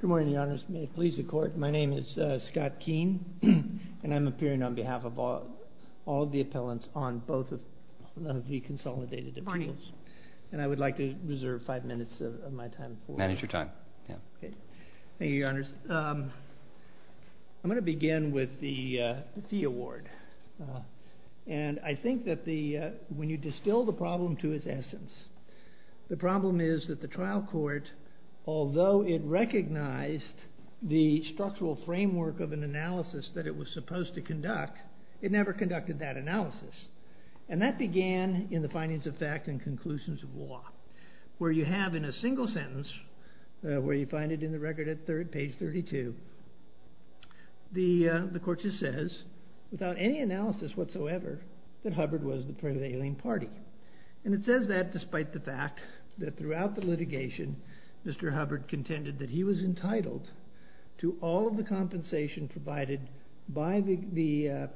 Good morning, Your Honors. May it please the Court, my name is Scott Keene, and I'm appearing on behalf of all of the appellants on both of the consolidated appeals. Good morning. And I would like to reserve five minutes of my time. Manage your time. Thank you, Your Honors. I'm going to begin with the Thie Award. And I think that when you distill the problem to its essence, the problem is that the trial court, although it recognized the structural framework of an analysis that it was supposed to conduct, it never conducted that analysis. And that began in the findings of fact and conclusions of law. Where you have in a single sentence, where you find it in the record at page 32, the court just says, without any analysis whatsoever, that Hubbard was the prevailing party. And it says that despite the fact that throughout the litigation, Mr. Hubbard contended that he was entitled to all of the compensation provided by the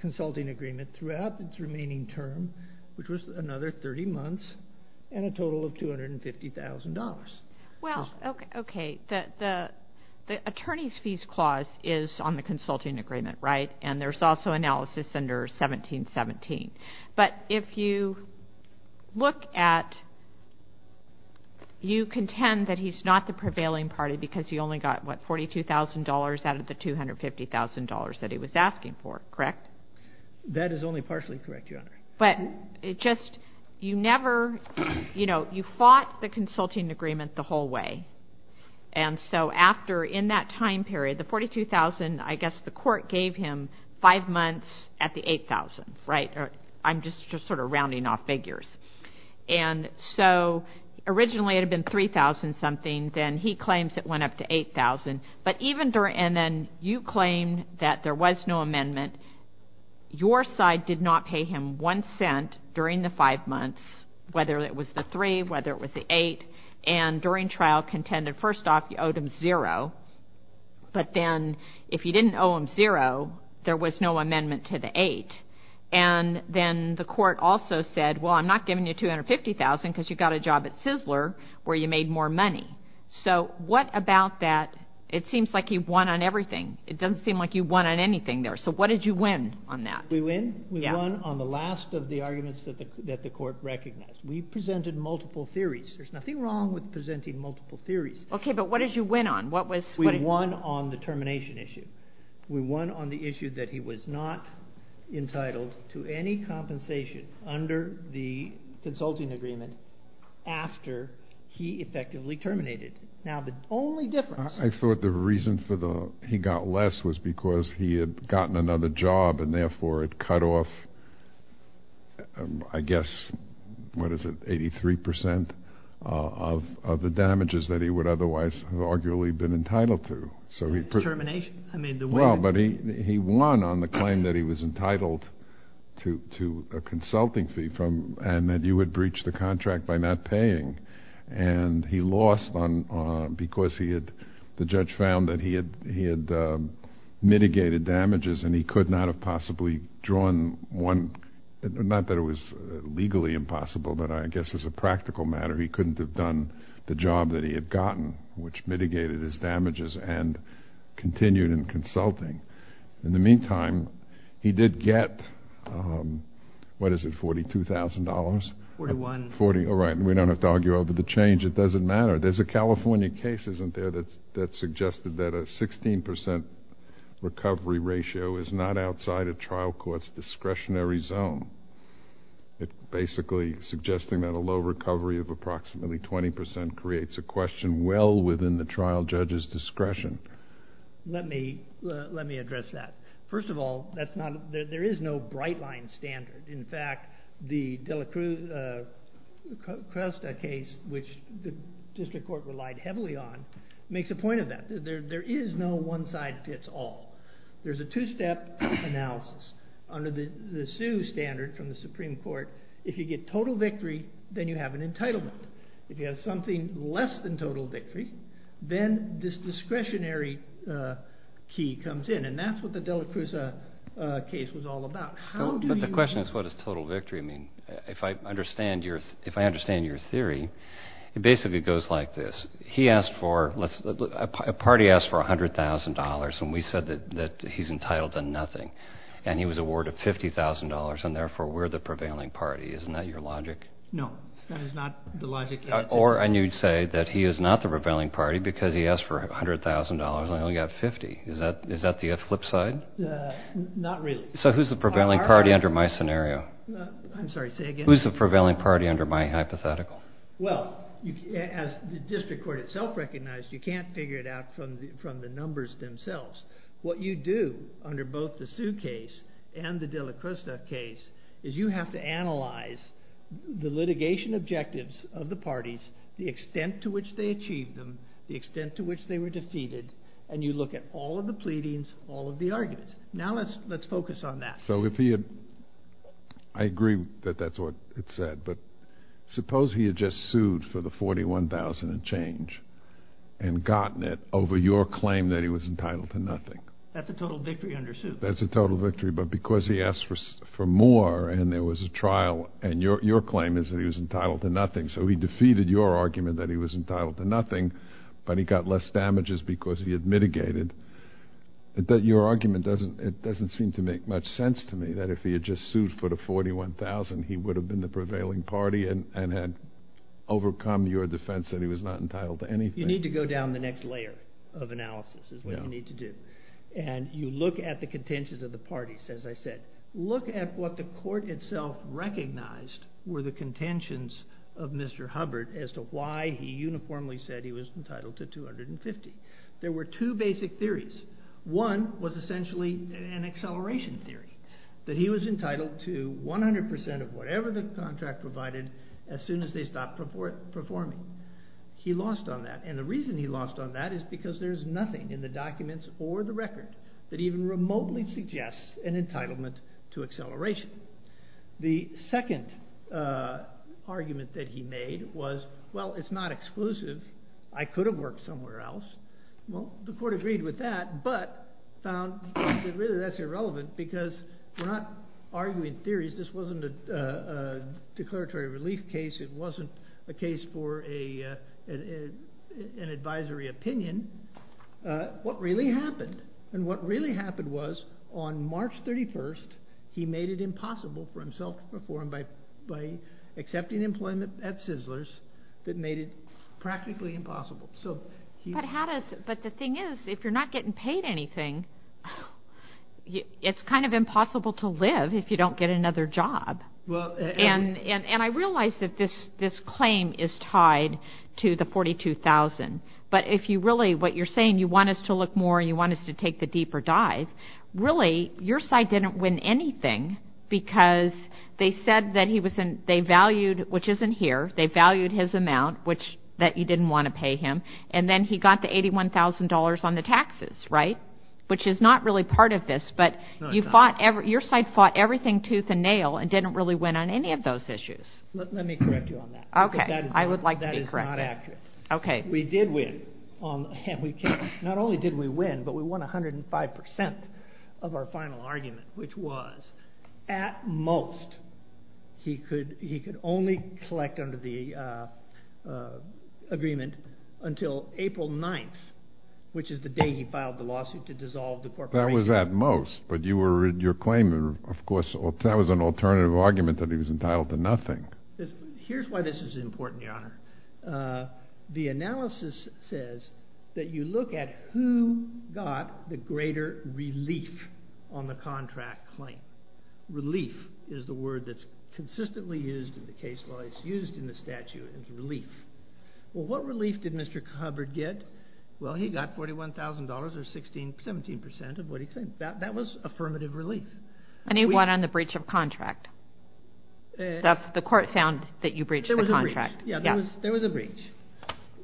consulting agreement throughout its remaining term, which was another 30 months, and a total of $250,000. Well, okay. The attorney's fees clause is on the consulting agreement, right? And there's also analysis under 1717. But if you look at, you contend that he's not the prevailing party because he only got, what, $42,000 out of the $250,000 that he was asking for, correct? That is only partially correct, Your Honor. But it just, you never, you know, you fought the consulting agreement the whole way. And so after, in that time period, the $42,000, I guess the court gave him five months at the $8,000, right? I'm just sort of rounding off figures. And so originally it had been $3,000-something. Then he claims it went up to $8,000. But even during, and then you claim that there was no amendment. Your side did not pay him one cent during the five months, whether it was the three, whether it was the eight. And during trial contended, first off, you owed him zero. But then if you didn't owe him zero, there was no amendment to the eight. And then the court also said, well, I'm not giving you $250,000 because you got a job at Sizzler where you made more money. So what about that? It seems like you won on everything. It doesn't seem like you won on anything there. So what did you win on that? We won on the last of the arguments that the court recognized. We presented multiple theories. There's nothing wrong with presenting multiple theories. Okay. But what did you win on? What was- We won on the termination issue. We won on the issue that he was not entitled to any compensation under the consulting agreement after he effectively terminated. Now the only difference- I thought the reason for the, he got less was because he had gotten another job and therefore it cut off, I guess, what is it, 83% of the damages that he would otherwise have arguably been entitled to. So he- Termination? I mean the- The judge found that he had mitigated damages and he could not have possibly drawn one, not that it was legally impossible, but I guess as a practical matter, he couldn't have done the job that he had gotten, which mitigated his damages and continued in consulting. In the meantime, he did get, what is it, $42,000? 41. 41, right. We don't have to argue over the change. It doesn't matter. There's a California case, isn't there, that suggested that a 16% recovery ratio is not outside a trial court's discretionary zone. It's basically suggesting that a low recovery of approximately 20% creates a question well within the trial judge's discretion. Let me, let me address that. First of all, that's not, there is no bright line standard. In fact, the Dela Cruz Cresta case, which the district court relied heavily on, makes a point of that. There is no one side fits all. There's a two-step analysis under the Sioux standard from the Supreme Court. If you get total victory, then you have an entitlement. If you have something less than total victory, then this discretionary key comes in, and that's what the Dela Cruz case was all about. How do you- And he was awarded $50,000, and therefore we're the prevailing party. Isn't that your logic? No, that is not the logic. Or, and you'd say that he is not the prevailing party because he asked for $100,000 and only got $50,000. Is that the flip side? Not really. So who's the prevailing party under my scenario? I'm sorry, say again? Who's the prevailing party under my hypothetical? Well, as the district court itself recognized, you can't figure it out from the numbers themselves. What you do under both the Sioux case and the Dela Cruz case is you have to analyze the litigation objectives of the parties, the extent to which they achieved them, the extent to which they were defeated, and you look at all of the pleadings, all of the arguments. Now let's focus on that. I agree that that's what it said, but suppose he had just sued for the $41,000 and change and gotten it over your claim that he was entitled to nothing. That's a total victory under Sioux. That's a total victory, but because he asked for more and there was a trial, and your claim is that he was entitled to nothing, so he defeated your argument that he was entitled to nothing, but he got less damages because he had mitigated. Your argument doesn't seem to make much sense to me that if he had just sued for the $41,000, he would have been the prevailing party and had overcome your defense that he was not entitled to anything. You need to go down the next layer of analysis is what you need to do, and you look at the contentions of the parties, as I said. Look at what the court itself recognized were the contentions of Mr. Hubbard as to why he uniformly said he was entitled to $250,000. There were two basic theories. One was essentially an acceleration theory that he was entitled to 100% of whatever the contract provided as soon as they stopped performing. He lost on that, and the reason he lost on that is because there's nothing in the documents or the record that even remotely suggests an entitlement to acceleration. The second argument that he made was, well, it's not exclusive. I could have worked somewhere else. Well, the court agreed with that but found that really that's irrelevant because we're not arguing theories. This wasn't a declaratory relief case. It wasn't a case for an advisory opinion. What really happened was on March 31st, he made it impossible for himself to perform by accepting employment at Sizzler's that made it practically impossible. But the thing is, if you're not getting paid anything, it's kind of impossible to live if you don't get another job. And I realize that this claim is tied to the $42,000, but if you really, what you're saying, you want us to look more, you want us to take the deeper dive, really your side didn't win anything because they said that they valued, which isn't here, they valued his amount that you didn't want to pay him, and then he got the $81,000 on the taxes, right, which is not really part of this, but your side fought everything tooth and nail and didn't really win on any of those issues. Let me correct you on that. Okay. I would like to be corrected. That is not accurate. Okay. We did win. Not only did we win, but we won 105% of our final argument, which was at most he could only collect under the agreement until April 9th, which is the day he filed the lawsuit to dissolve the corporation. That was at most, but your claim, of course, that was an alternative argument that he was entitled to nothing. Here's why this is important, Your Honor. The analysis says that you look at who got the greater relief on the contract claim. Relief is the word that's consistently used in the case law. It's used in the statute as relief. Well, what relief did Mr. Hubbard get? Well, he got $41,000 or 17% of what he claimed. That was affirmative relief. And he won on the breach of contract. The court found that you breached the contract. There was a breach,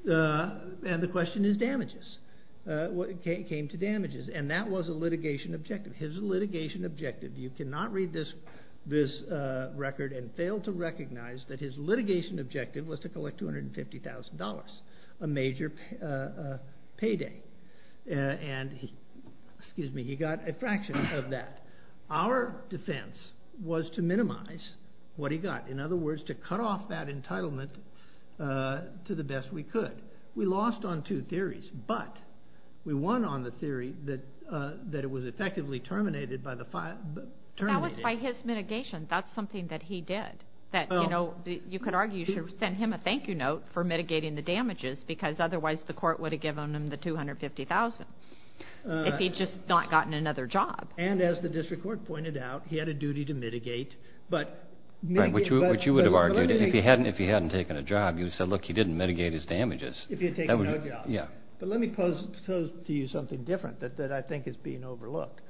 and the question is damages. It came to damages, and that was a litigation objective. His litigation objective, you cannot read this record and fail to recognize that his litigation objective was to collect $250,000, a major payday, and he got a fraction of that. Our defense was to minimize what he got. In other words, to cut off that entitlement to the best we could. We lost on two theories, but we won on the theory that it was effectively terminated by the terminating. That was by his mitigation. That's something that he did. You could argue you should send him a thank-you note for mitigating the damages, because otherwise the court would have given him the $250,000 if he had just not gotten another job. And as the district court pointed out, he had a duty to mitigate. Right, which you would have argued. If he hadn't taken a job, you would have said, look, he didn't mitigate his damages. If he had taken no job. Yeah. But let me pose to you something different that I think is being overlooked.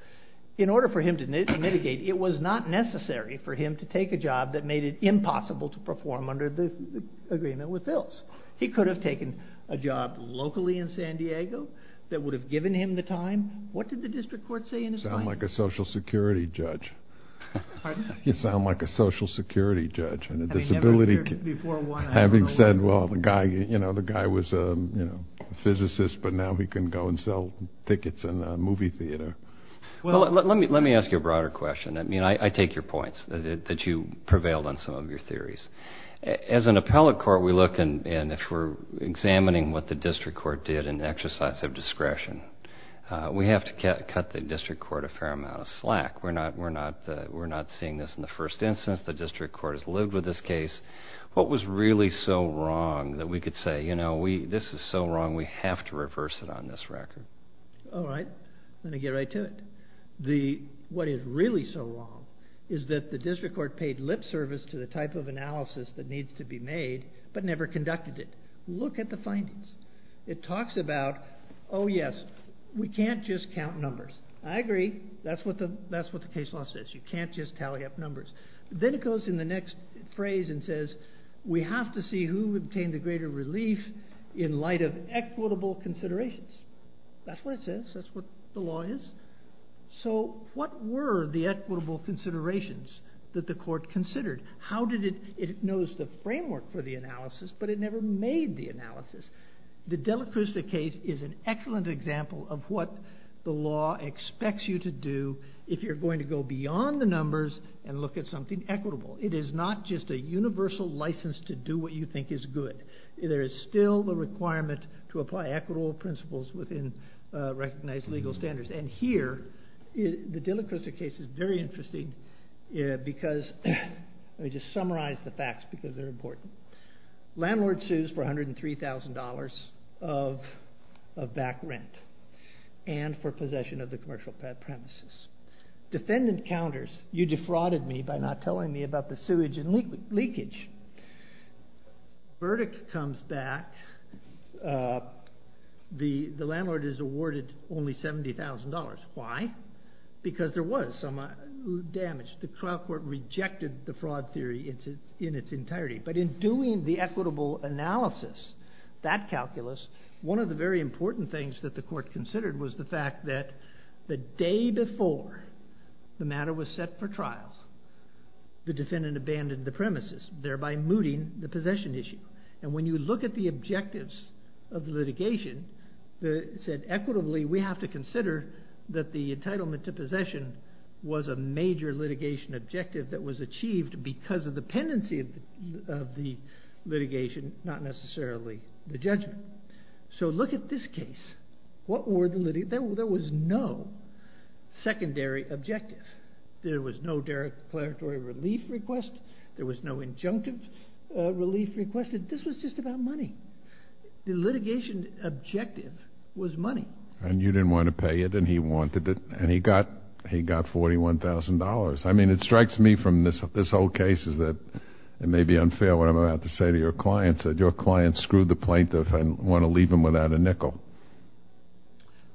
In order for him to mitigate, it was not necessary for him to take a job that made it impossible to perform under the agreement with Philz. He could have taken a job locally in San Diego that would have given him the time. What did the district court say in his mind? You sound like a Social Security judge. Pardon? You sound like a Social Security judge and a disability judge. I never appeared before one. Having said, well, the guy was a physicist, but now he can go and sell tickets in a movie theater. Well, let me ask you a broader question. I mean, I take your points that you prevailed on some of your theories. As an appellate court, we look, and if we're examining what the district court did in exercise of discretion, we have to cut the district court a fair amount of slack. We're not seeing this in the first instance. The district court has lived with this case. What was really so wrong that we could say, you know, this is so wrong, we have to reverse it on this record? All right. I'm going to get right to it. What is really so wrong is that the district court paid lip service to the type of analysis that needs to be made but never conducted it. Look at the findings. It talks about, oh, yes, we can't just count numbers. I agree. That's what the case law says. You can't just tally up numbers. Then it goes in the next phrase and says, we have to see who obtained the greater relief in light of equitable considerations. That's what it says. That's what the law is. So what were the equitable considerations that the court considered? How did it? It knows the framework for the analysis, but it never made the analysis. The Dillacrista case is an excellent example of what the law expects you to do if you're going to go beyond the numbers and look at something equitable. It is not just a universal license to do what you think is good. There is still the requirement to apply equitable principles within recognized legal standards. And here, the Dillacrista case is very interesting because, let me just summarize the facts because they're important. Landlord sues for $103,000 of back rent and for possession of the commercial premises. Defendant counters, you defrauded me by not telling me about the sewage and leakage. Verdict comes back, the landlord is awarded only $70,000. Why? Because there was some damage. The trial court rejected the fraud theory in its entirety. But in doing the equitable analysis, that calculus, one of the very important things that the court considered was the fact that the day before the matter was set for trial, the defendant abandoned the premises, thereby mooting the possession issue. And when you look at the objectives of the litigation, it said equitably we have to consider that the entitlement to possession was a major litigation objective that was achieved because of the pendency of the litigation, not necessarily the judgment. So look at this case. There was no secondary objective. There was no declaratory relief request. There was no injunctive relief request. This was just about money. The litigation objective was money. And you didn't want to pay it and he wanted it and he got $41,000. I mean it strikes me from this whole case that it may be unfair what I'm about to say to your clients that your clients screwed the plaintiff and want to leave him without a nickel.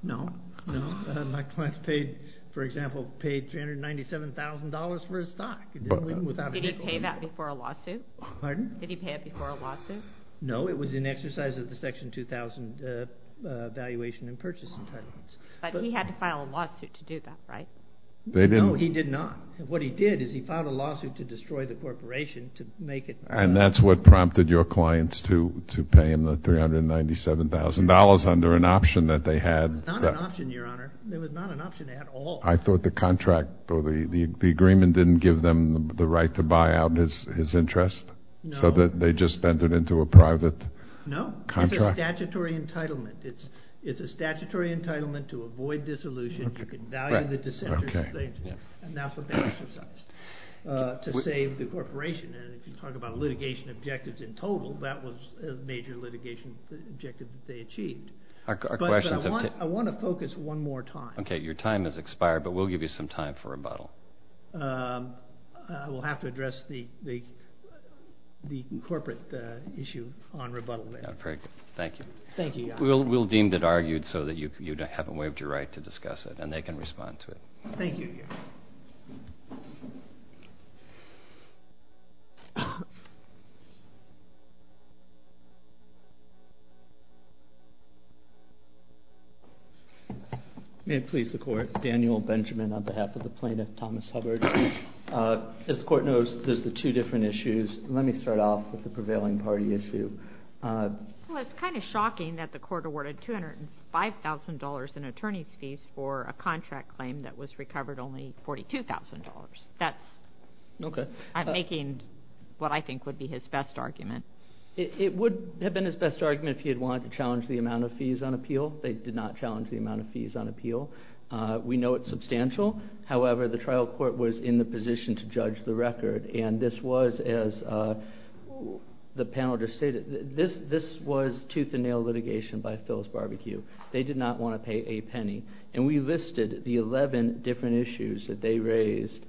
No. My clients paid, for example, paid $397,000 for his stock. Did he pay that before a lawsuit? Pardon? Did he pay it before a lawsuit? No, it was an exercise of the Section 2000 valuation and purchase entitlements. But he had to file a lawsuit to do that, right? No, he did not. What he did is he filed a lawsuit to destroy the corporation to make it fair. And that's what prompted your clients to pay him the $397,000 under an option that they had. It was not an option, Your Honor. It was not an option at all. I thought the contract or the agreement didn't give them the right to buy out his interest? No. So they just entered into a private contract? No, it's a statutory entitlement. It's a statutory entitlement to avoid dissolution. You can value the dissenter's claims. And that's what they exercised to save the corporation. And if you talk about litigation objectives in total, that was a major litigation objective that they achieved. I want to focus one more time. Okay, your time has expired, but we'll give you some time for rebuttal. I will have to address the corporate issue on rebuttal later. Thank you. Thank you, Your Honor. We'll deem it argued so that you haven't waived your right to discuss it and they can respond to it. Thank you. May it please the Court. Daniel Benjamin on behalf of the plaintiff, Thomas Hubbard. As the Court knows, there's the two different issues. Let me start off with the prevailing party issue. Well, it's kind of shocking that the Court awarded $205,000 in attorney's fees for a contract claim that was recovered only $42,000. That's making what I think would be his best argument. It would have been his best argument if he had wanted to challenge the amount of fees on appeal. They did not challenge the amount of fees on appeal. We know it's substantial. However, the trial court was in the position to judge the record. And this was, as the panel just stated, this was tooth and nail litigation by Phil's Barbecue. They did not want to pay a penny. And we listed the 11 different issues that they raised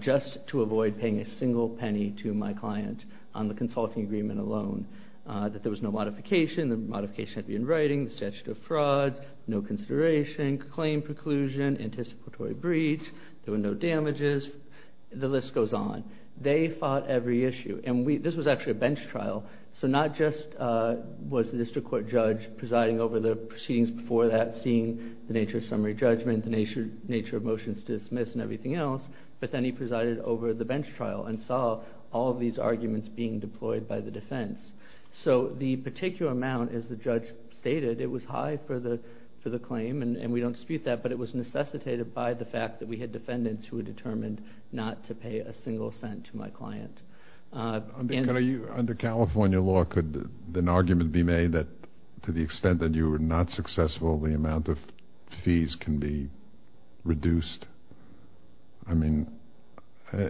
just to avoid paying a single penny to my client on the consulting agreement alone. That there was no modification. The modification had to be in writing. The statute of frauds. No consideration. Claim preclusion. Anticipatory breach. There were no damages. The list goes on. They fought every issue. And this was actually a bench trial. So not just was the district court judge presiding over the proceedings before that, seeing the nature of summary judgment, the nature of motions to dismiss and everything else. But then he presided over the bench trial and saw all of these arguments being deployed by the defense. So the particular amount, as the judge stated, it was high for the claim. And we don't dispute that. But it was necessitated by the fact that we had defendants who were determined not to pay a single cent to my client. Under California law, could an argument be made that to the extent that you were not successful, the amount of fees can be reduced? I mean,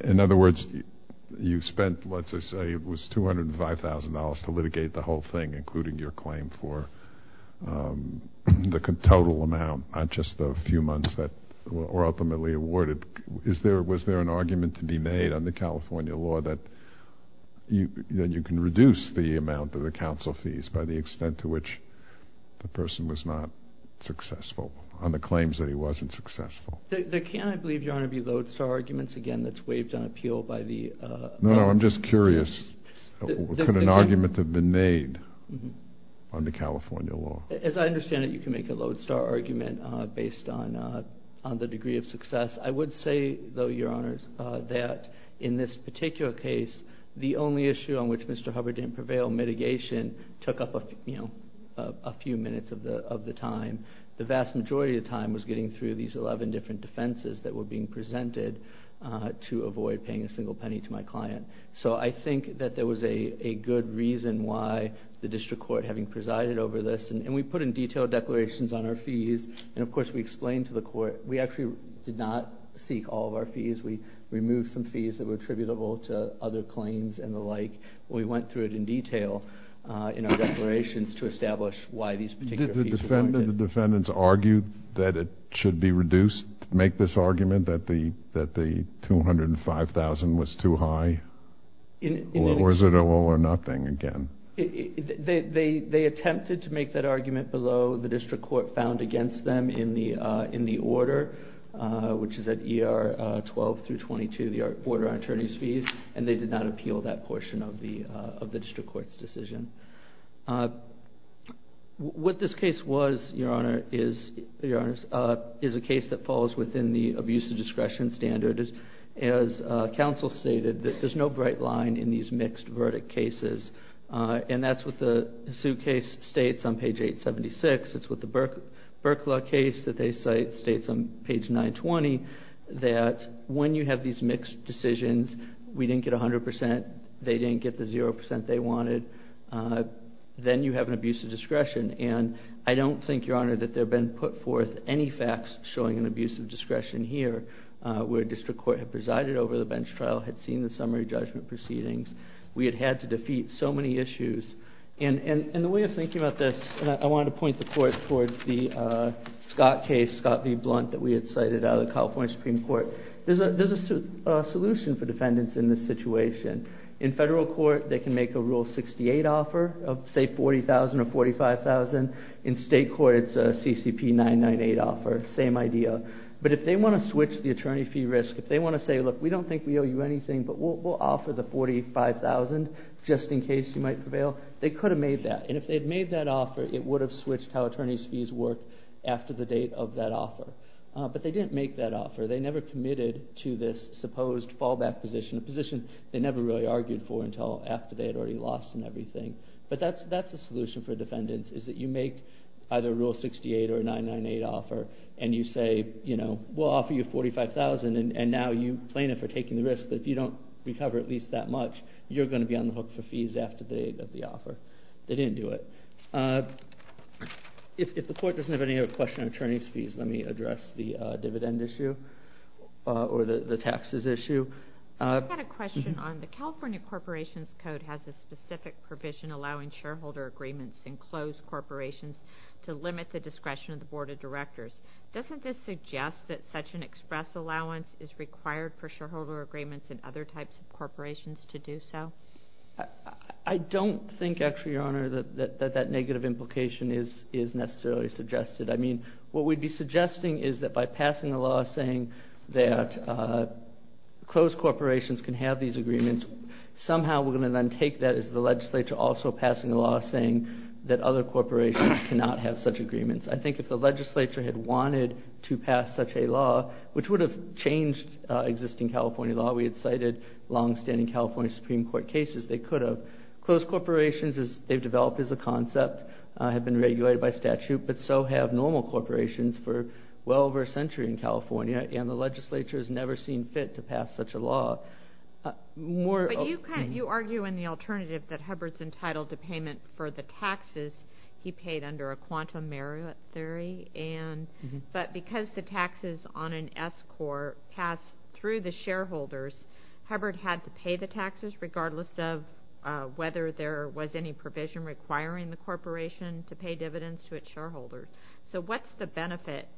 in other words, you spent, let's just say it was $205,000 to litigate the whole thing, including your claim for the total amount on just the few months that were ultimately awarded. Was there an argument to be made under California law that you can reduce the amount of the counsel fees by the extent to which the person was not successful on the claims that he wasn't successful? There can, I believe, Your Honor, be lodestar arguments again that's waived on appeal by the- No, no, I'm just curious. Could an argument have been made under California law? As I understand it, you can make a lodestar argument based on the degree of success. I would say, though, Your Honor, that in this particular case, the only issue on which Mr. Hubbard didn't prevail, mitigation, took up a few minutes of the time. The vast majority of the time was getting through these 11 different defenses that were being presented to avoid paying a single penny to my client. So I think that there was a good reason why the district court, having presided over this, and we put in detailed declarations on our fees, and of course we explained to the court. We actually did not seek all of our fees. We removed some fees that were attributable to other claims and the like. We went through it in detail in our declarations to establish why these particular fees- Did the defendants argue that it should be reduced, make this argument that the $205,000 was too high? Or is it all or nothing again? They attempted to make that argument below the district court found against them in the order, which is at ER 12 through 22, the order on attorney's fees, and they did not appeal that portion of the district court's decision. What this case was, Your Honor, is a case that falls within the abuse of discretion standard. As counsel stated, there's no bright line in these mixed verdict cases. And that's what the suit case states on page 876. It's what the Berkla case that they cite states on page 920, that when you have these mixed decisions, we didn't get 100%, they didn't get the 0% they wanted. Then you have an abuse of discretion. And I don't think, Your Honor, that there have been put forth any facts showing an abuse of discretion here, where district court had presided over the bench trial, had seen the summary judgment proceedings. We had had to defeat so many issues. And the way of thinking about this, and I want to point the court towards the Scott case, Scott v. Blunt, that we had cited out of the California Supreme Court. There's a solution for defendants in this situation. In federal court, they can make a Rule 68 offer of, say, $40,000 or $45,000. In state court, it's a CCP 998 offer, same idea. But if they want to switch the attorney fee risk, if they want to say, look, we don't think we owe you anything, but we'll offer the $45,000 just in case you might prevail, they could have made that. And if they had made that offer, it would have switched how attorney's fees work after the date of that offer. But they didn't make that offer. They never committed to this supposed fallback position, a position they never really argued for until after they had already lost and everything. But that's the solution for defendants, is that you make either a Rule 68 or a 998 offer, and you say, you know, we'll offer you $45,000, and now you plaintiff are taking the risk that if you don't recover at least that much, you're going to be on the hook for fees after the date of the offer. They didn't do it. If the court doesn't have any other questions on attorney's fees, let me address the dividend issue or the taxes issue. I've got a question on the California Corporations Code has a specific provision allowing shareholder agreements in closed corporations to limit the discretion of the Board of Directors. Doesn't this suggest that such an express allowance is required for shareholder agreements in other types of corporations to do so? I don't think, actually, Your Honor, that that negative implication is necessarily suggested. I mean, what we'd be suggesting is that by passing a law saying that closed corporations can have these agreements, somehow we're going to then take that as the legislature also passing a law saying that other corporations cannot have such agreements. I think if the legislature had wanted to pass such a law, which would have changed existing California law, we had cited longstanding California Supreme Court cases, they could have. Closed corporations, as they've developed as a concept, have been regulated by statute, but so have normal corporations for well over a century in California, and the legislature has never seen fit to pass such a law. But you argue in the alternative that Hubbard's entitled to payment for the taxes he paid under a quantum merit theory, but because the taxes on an S-Core pass through the shareholders, Hubbard had to pay the taxes, regardless of whether there was any provision requiring the corporation to pay dividends to its shareholders. So what's the benefit?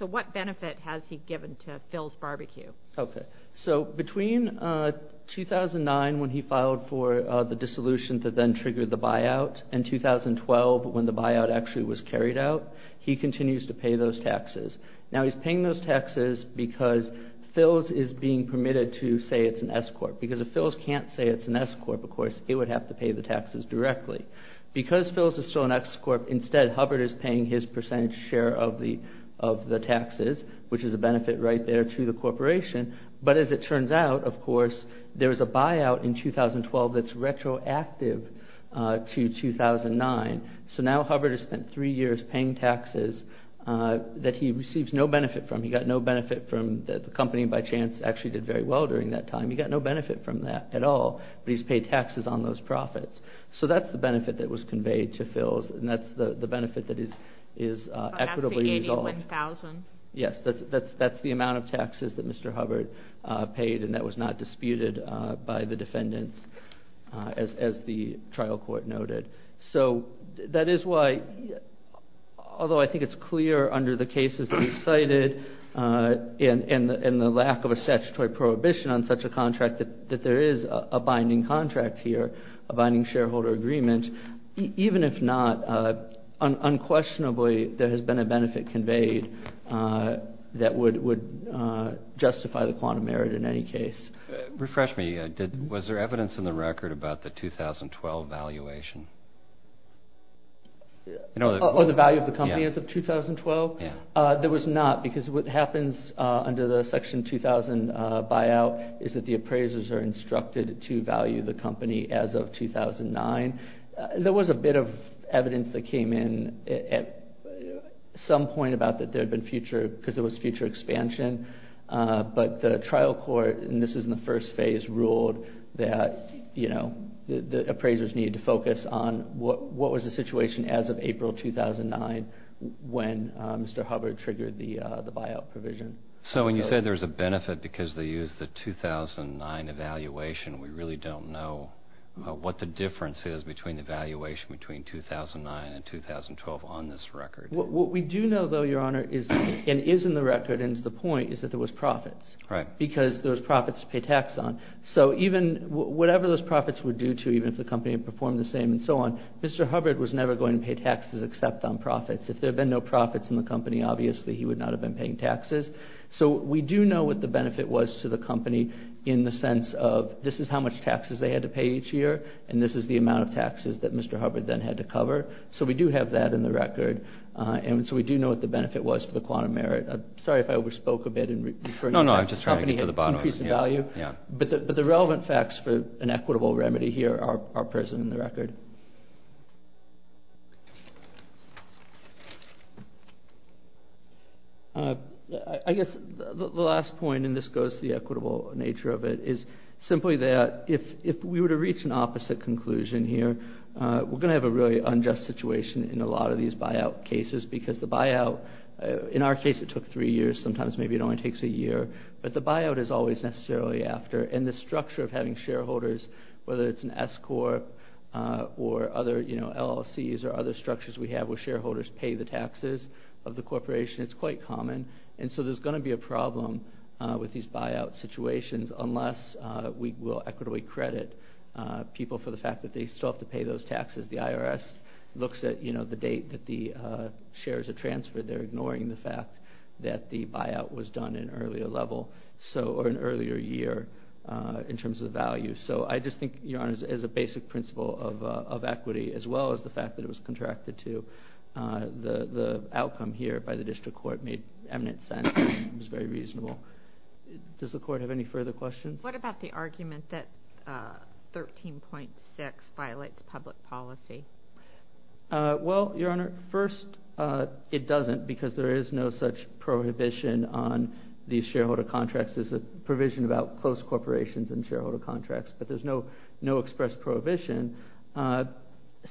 So what benefit has he given to Phil's Bar-B-Q? Okay. So between 2009, when he filed for the dissolution that then triggered the buyout, and 2012, when the buyout actually was carried out, he continues to pay those taxes. Now he's paying those taxes because Phil's is being permitted to say it's an S-Corp. Because if Phil's can't say it's an S-Corp, of course, it would have to pay the taxes directly. Because Phil's is still an S-Corp, instead Hubbard is paying his percentage share of the taxes, which is a benefit right there to the corporation, but as it turns out, of course, there was a buyout in 2012 that's retroactive to 2009. So now Hubbard has spent three years paying taxes that he receives no benefit from. He got no benefit from the company, by chance, actually did very well during that time. He got no benefit from that at all, but he's paid taxes on those profits. So that's the benefit that was conveyed to Phil's, and that's the benefit that is equitably resolved. Yes, that's the amount of taxes that Mr. Hubbard paid, and that was not disputed by the defendants, as the trial court noted. So that is why, although I think it's clear under the cases that we've cited, and the lack of a statutory prohibition on such a contract, that there is a binding contract here, a binding shareholder agreement. Even if not, unquestionably, there has been a benefit conveyed that would justify the quantum merit in any case. Refresh me. Was there evidence in the record about the 2012 valuation? Or the value of the company as of 2012? There was not, because what happens under the section 2000 buyout is that the appraisers are instructed to value the company as of 2009. There was a bit of evidence that came in at some point about that there had been future, because there was future expansion, but the trial court, and this is in the first phase, ruled that the appraisers needed to focus on what was the situation as of April 2009 when Mr. Hubbard triggered the buyout provision. So when you say there's a benefit because they used the 2009 evaluation, we really don't know what the difference is between the valuation between 2009 and 2012 on this record. What we do know, though, Your Honor, and is in the record and is the point, is that there was profits. Right. Because there was profits to pay tax on. So whatever those profits were due to, even if the company had performed the same and so on, Mr. Hubbard was never going to pay taxes except on profits. If there had been no profits in the company, obviously, he would not have been paying taxes. So we do know what the benefit was to the company in the sense of this is how much taxes they had to pay each year, and this is the amount of taxes that Mr. Hubbard then had to cover. So we do have that in the record, and so we do know what the benefit was for the quantum merit. Sorry if I overspoke a bit in referring to that. No, no, I'm just trying to get to the bottom of it. Increase in value. Yeah, yeah. But the relevant facts for an equitable remedy here are present in the record. I guess the last point, and this goes to the equitable nature of it, is simply that if we were to reach an opposite conclusion here, we're going to have a really unjust situation in a lot of these buyout cases because the buyout, in our case, it took three years. Sometimes maybe it only takes a year. But the buyout is always necessarily after. And the structure of having shareholders, whether it's an S Corp or other LLCs or other structures we have where shareholders pay the taxes of the corporation, it's quite common. And so there's going to be a problem with these buyout situations unless we will equitably credit people for the fact that they still have to pay those taxes. The IRS looks at the date that the shares are transferred. They're ignoring the fact that the buyout was done in an earlier year in terms of value. So I just think, Your Honor, as a basic principle of equity, as well as the fact that it was contracted to, the outcome here by the district court made eminent sense. It was very reasonable. Does the court have any further questions? What about the argument that 13.6 violates public policy? Well, Your Honor, first, it doesn't, because there is no such prohibition on these shareholder contracts as a provision about close corporations and shareholder contracts. But there's no express prohibition.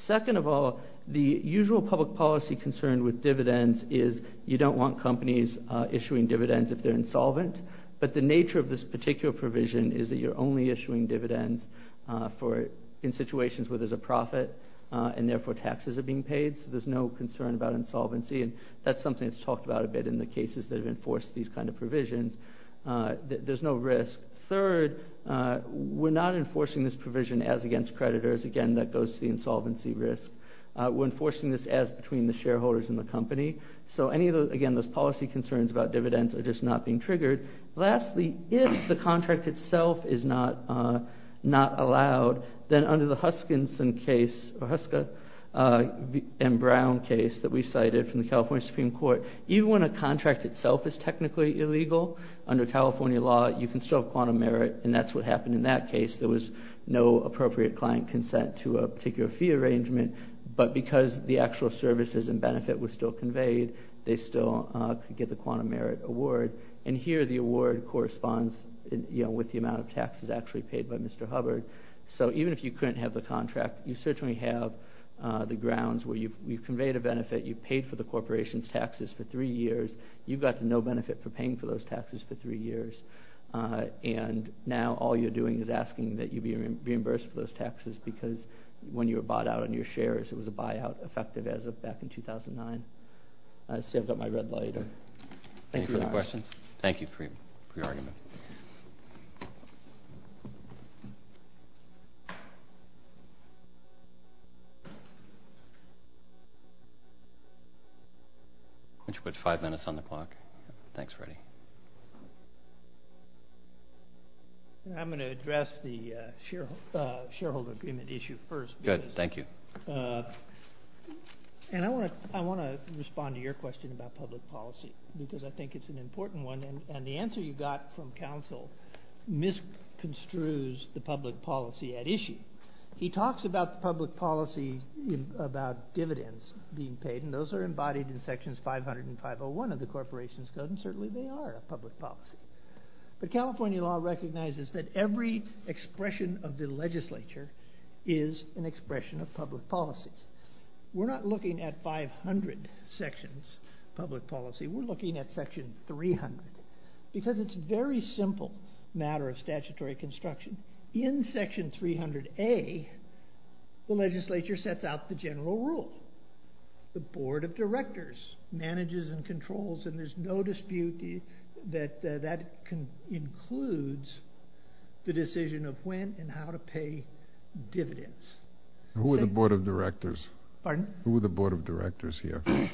Second of all, the usual public policy concern with dividends is you don't want companies issuing dividends if they're insolvent. But the nature of this particular provision is that you're only issuing dividends in situations where there's a profit and, therefore, taxes are being paid. So there's no concern about insolvency. And that's something that's talked about a bit in the cases that have enforced these kind of provisions. There's no risk. Third, we're not enforcing this provision as against creditors. Again, that goes to the insolvency risk. We're enforcing this as between the shareholders and the company. So, again, those policy concerns about dividends are just not being triggered. Lastly, if the contract itself is not allowed, then under the Huskinson case, or Huska and Brown case that we cited from the California Supreme Court, even when a contract itself is technically illegal, under California law, you can still have quantum merit, and that's what happened in that case. There was no appropriate client consent to a particular fee arrangement, but because the actual services and benefit was still conveyed, they still could get the quantum merit award. And here the award corresponds with the amount of taxes actually paid by Mr. Hubbard. So even if you couldn't have the contract, you certainly have the grounds where you've conveyed a benefit, you've paid for the corporation's taxes for three years, you've got the no benefit for paying for those taxes for three years, and now all you're doing is asking that you be reimbursed for those taxes because when you were bought out on your shares, it was a buyout effective as of back in 2009. I see I've got my red light. Any further questions? Thank you for your argument. Why don't you put five minutes on the clock? Thanks, Freddie. I'm going to address the shareholder agreement issue first. Good. Thank you. And I want to respond to your question about public policy because I think it's an important one, and the answer you got from counsel misconstrues the public policy at issue. He talks about the public policy about dividends being paid, and those are embodied in Sections 500 and 501 of the Corporation's Code, and certainly they are a public policy. But California law recognizes that every expression of the legislature is an expression of public policy. We're not looking at 500 sections of public policy. We're looking at Section 300 because it's a very simple matter of statutory construction. In Section 300A, the legislature sets out the general rule. The board of directors manages and controls, and there's no dispute that that includes the decision of when and how to pay dividends. Who are the board of directors? Pardon? Who are the board of directors here? The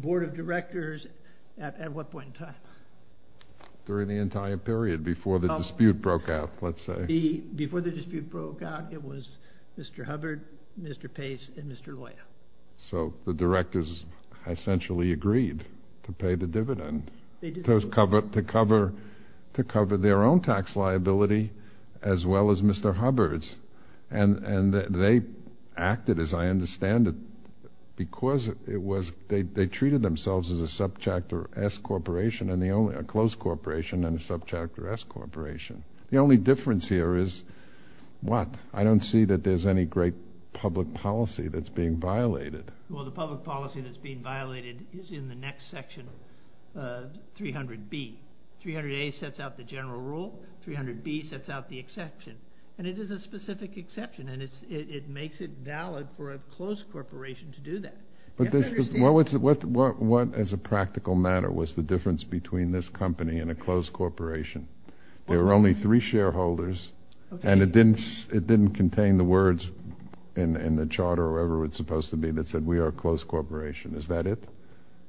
board of directors at what point in time? During the entire period before the dispute broke out, let's say. Before the dispute broke out, it was Mr. Hubbard, Mr. Pace, and Mr. Loya. So the directors essentially agreed to pay the dividend to cover their own tax liability as well as Mr. Hubbard's. And they acted, as I understand it, because they treated themselves as a subchapter S corporation, a closed corporation and a subchapter S corporation. The only difference here is what? I don't see that there's any great public policy that's being violated. Well, the public policy that's being violated is in the next section, 300B. 300A sets out the general rule. 300B sets out the exception. And it is a specific exception, and it makes it valid for a closed corporation to do that. But what, as a practical matter, was the difference between this company and a closed corporation? There were only three shareholders, and it didn't contain the words in the charter or wherever it's supposed to be that said we are a closed corporation. Is that it?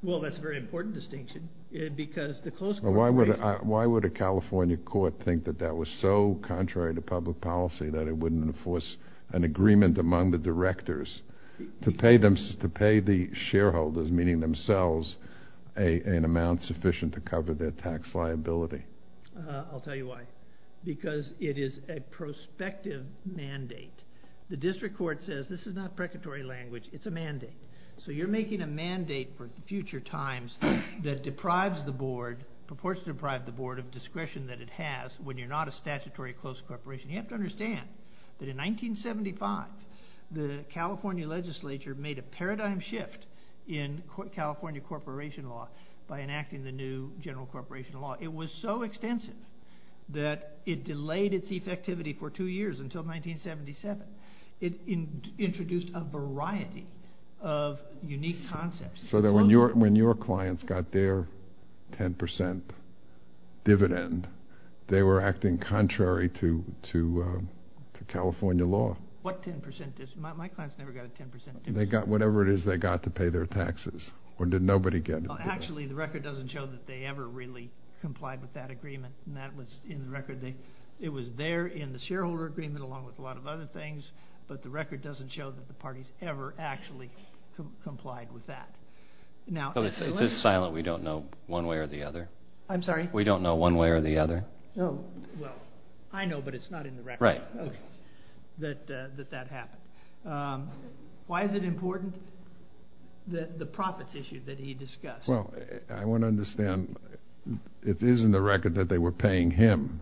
Well, that's a very important distinction because the closed corporation Why would a California court think that that was so contrary to public policy that it wouldn't enforce an agreement among the directors to pay the shareholders, meaning themselves, an amount sufficient to cover their tax liability? I'll tell you why. Because it is a prospective mandate. The district court says this is not precatory language. It's a mandate. So you're making a mandate for future times that deprives the board, purports to deprive the board of discretion that it has when you're not a statutory closed corporation. You have to understand that in 1975, the California legislature made a paradigm shift in California corporation law by enacting the new general corporation law. It was so extensive that it delayed its effectivity for two years until 1977. It introduced a variety of unique concepts. So that when your clients got their 10% dividend, they were acting contrary to California law. What 10%? My clients never got a 10% dividend. They got whatever it is they got to pay their taxes. Or did nobody get it? Actually, the record doesn't show that they ever really complied with that agreement. And that was in the record. It was there in the shareholder agreement along with a lot of other things, but the record doesn't show that the parties ever actually complied with that. It's silent. We don't know one way or the other. I'm sorry? We don't know one way or the other. Well, I know, but it's not in the record. Right. That that happened. Why is it important, the profits issue that he discussed? it is in the record that they were paying him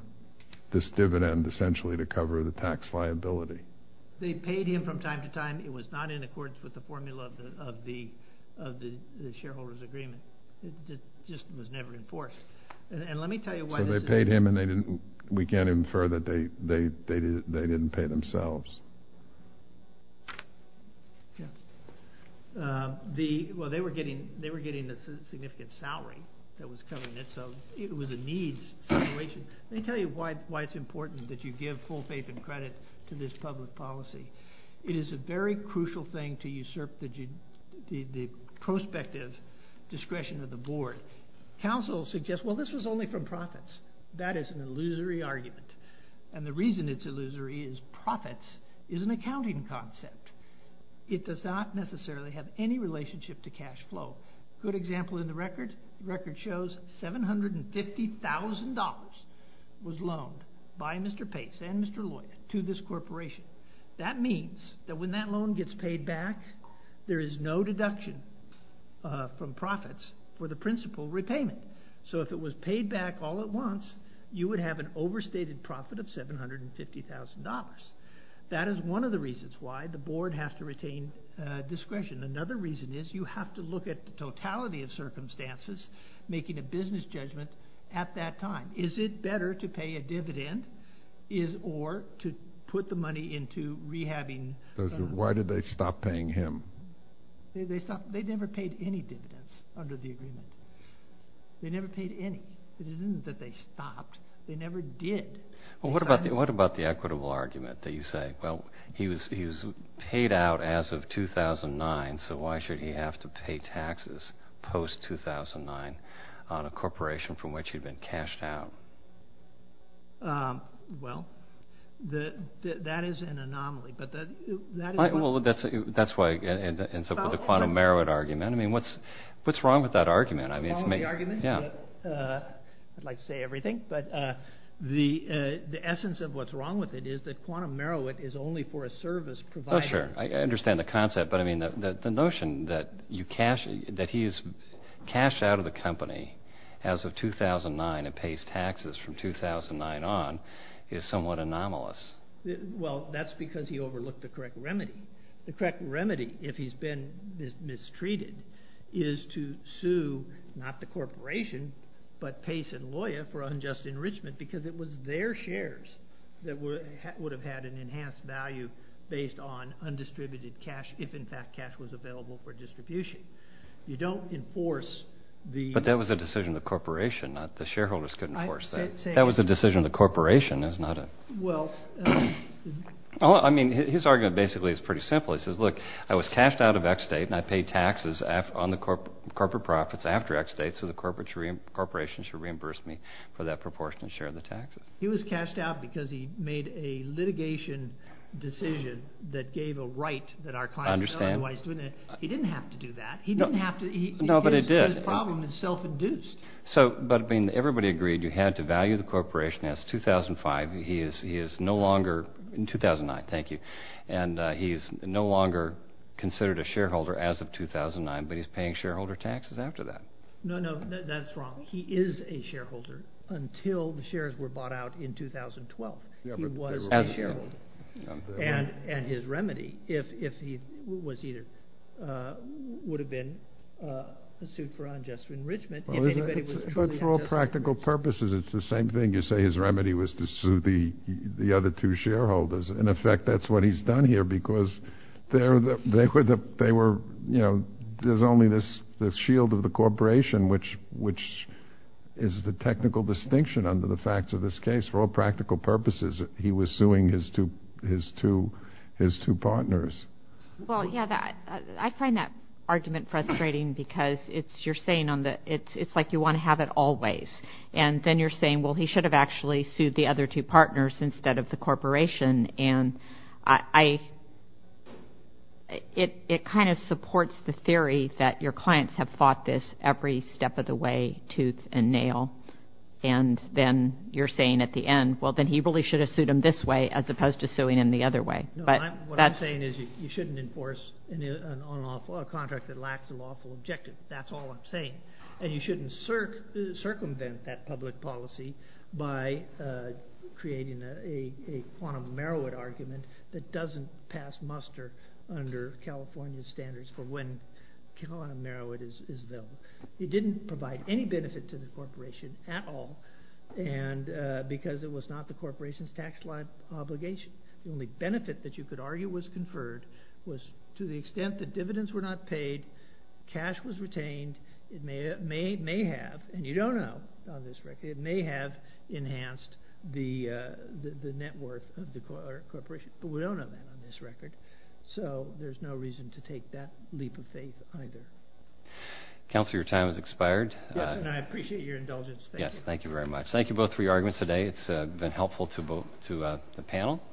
this dividend essentially to cover the tax liability. They paid him from time to time. It was not in accordance with the formula of the shareholder's agreement. It just was never enforced. And let me tell you why. So they paid him, and we can't infer that they didn't pay themselves. Well, they were getting a significant salary that was covering it, so it was a needs situation. Let me tell you why it's important that you give full faith and credit to this public policy. It is a very crucial thing to usurp the prospective discretion of the board. Counsel suggests, well, this was only from profits. That is an illusory argument, and the reason it's illusory is profits is an accounting concept. It does not necessarily have any relationship to cash flow. Good example in the record. The record shows $750,000 was loaned by Mr. Pace and Mr. Loya to this corporation. That means that when that loan gets paid back, there is no deduction from profits for the principal repayment. So if it was paid back all at once, you would have an overstated profit of $750,000. That is one of the reasons why the board has to retain discretion. Another reason is you have to look at the totality of circumstances making a business judgment at that time. Is it better to pay a dividend or to put the money into rehabbing? Why did they stop paying him? They never paid any dividends under the agreement. They never paid any. It isn't that they stopped. They never did. Well, what about the equitable argument that you say? Well, he was paid out as of 2009, so why should he have to pay taxes post-2009 on a corporation from which he'd been cashed out? Well, that is an anomaly. That's why I end up with the quantum Merowit argument. I mean, what's wrong with that argument? I'd like to say everything. But the essence of what's wrong with it is that quantum Merowit is only for a service provider. Oh, sure. I understand the concept. But, I mean, the notion that he is cashed out of the company as of 2009 and pays taxes from 2009 on is somewhat anomalous. Well, that's because he overlooked the correct remedy. The correct remedy, if he's been mistreated, is to sue not the corporation but Pace and Loya for unjust enrichment because it was their shares that would have had an enhanced value based on undistributed cash if, in fact, cash was available for distribution. You don't enforce the— But that was a decision of the corporation. The shareholders couldn't enforce that. That was a decision of the corporation. Well— I mean, his argument basically is pretty simple. He says, look, I was cashed out of X state and I paid taxes on the corporate profits after X state so the corporation should reimburse me for that proportionate share of the taxes. He was cashed out because he made a litigation decision that gave a right that our clients— I understand. He didn't have to do that. He didn't have to— No, but he did. His problem is self-induced. But, I mean, everybody agreed you had to value the corporation as 2005. He is no longer—2009, thank you. And he is no longer considered a shareholder as of 2009, but he's paying shareholder taxes after that. No, no, that's wrong. He is a shareholder until the shares were bought out in 2012. He was a shareholder. As a shareholder. And his remedy, if he was either—would have been sued for unjust enrichment— But for all practical purposes, it's the same thing. You say his remedy was to sue the other two shareholders. In effect, that's what he's done here because they were—there's only this shield of the corporation, which is the technical distinction under the facts of this case. For all practical purposes, he was suing his two partners. Well, yeah, I find that argument frustrating because you're saying it's like you want to have it always. And then you're saying, well, he should have actually sued the other two partners instead of the corporation. And it kind of supports the theory that your clients have fought this every step of the way, tooth and nail. And then you're saying at the end, well, then he really should have sued him this way as opposed to suing him the other way. What I'm saying is you shouldn't enforce a contract that lacks a lawful objective. That's all I'm saying. And you shouldn't circumvent that public policy by creating a quantum Merowit argument that doesn't pass muster under California standards for when quantum Merowit is billed. It didn't provide any benefit to the corporation at all because it was not the corporation's tax obligation. The only benefit that you could argue was conferred was to the extent that dividends were not paid, cash was retained. It may have—and you don't know on this record—it may have enhanced the net worth of the corporation. But we don't know that on this record. So there's no reason to take that leap of faith either. Counselor, your time has expired. Yes, and I appreciate your indulgence. Yes, thank you very much. Thank you both for your arguments today. It's been helpful to the panel.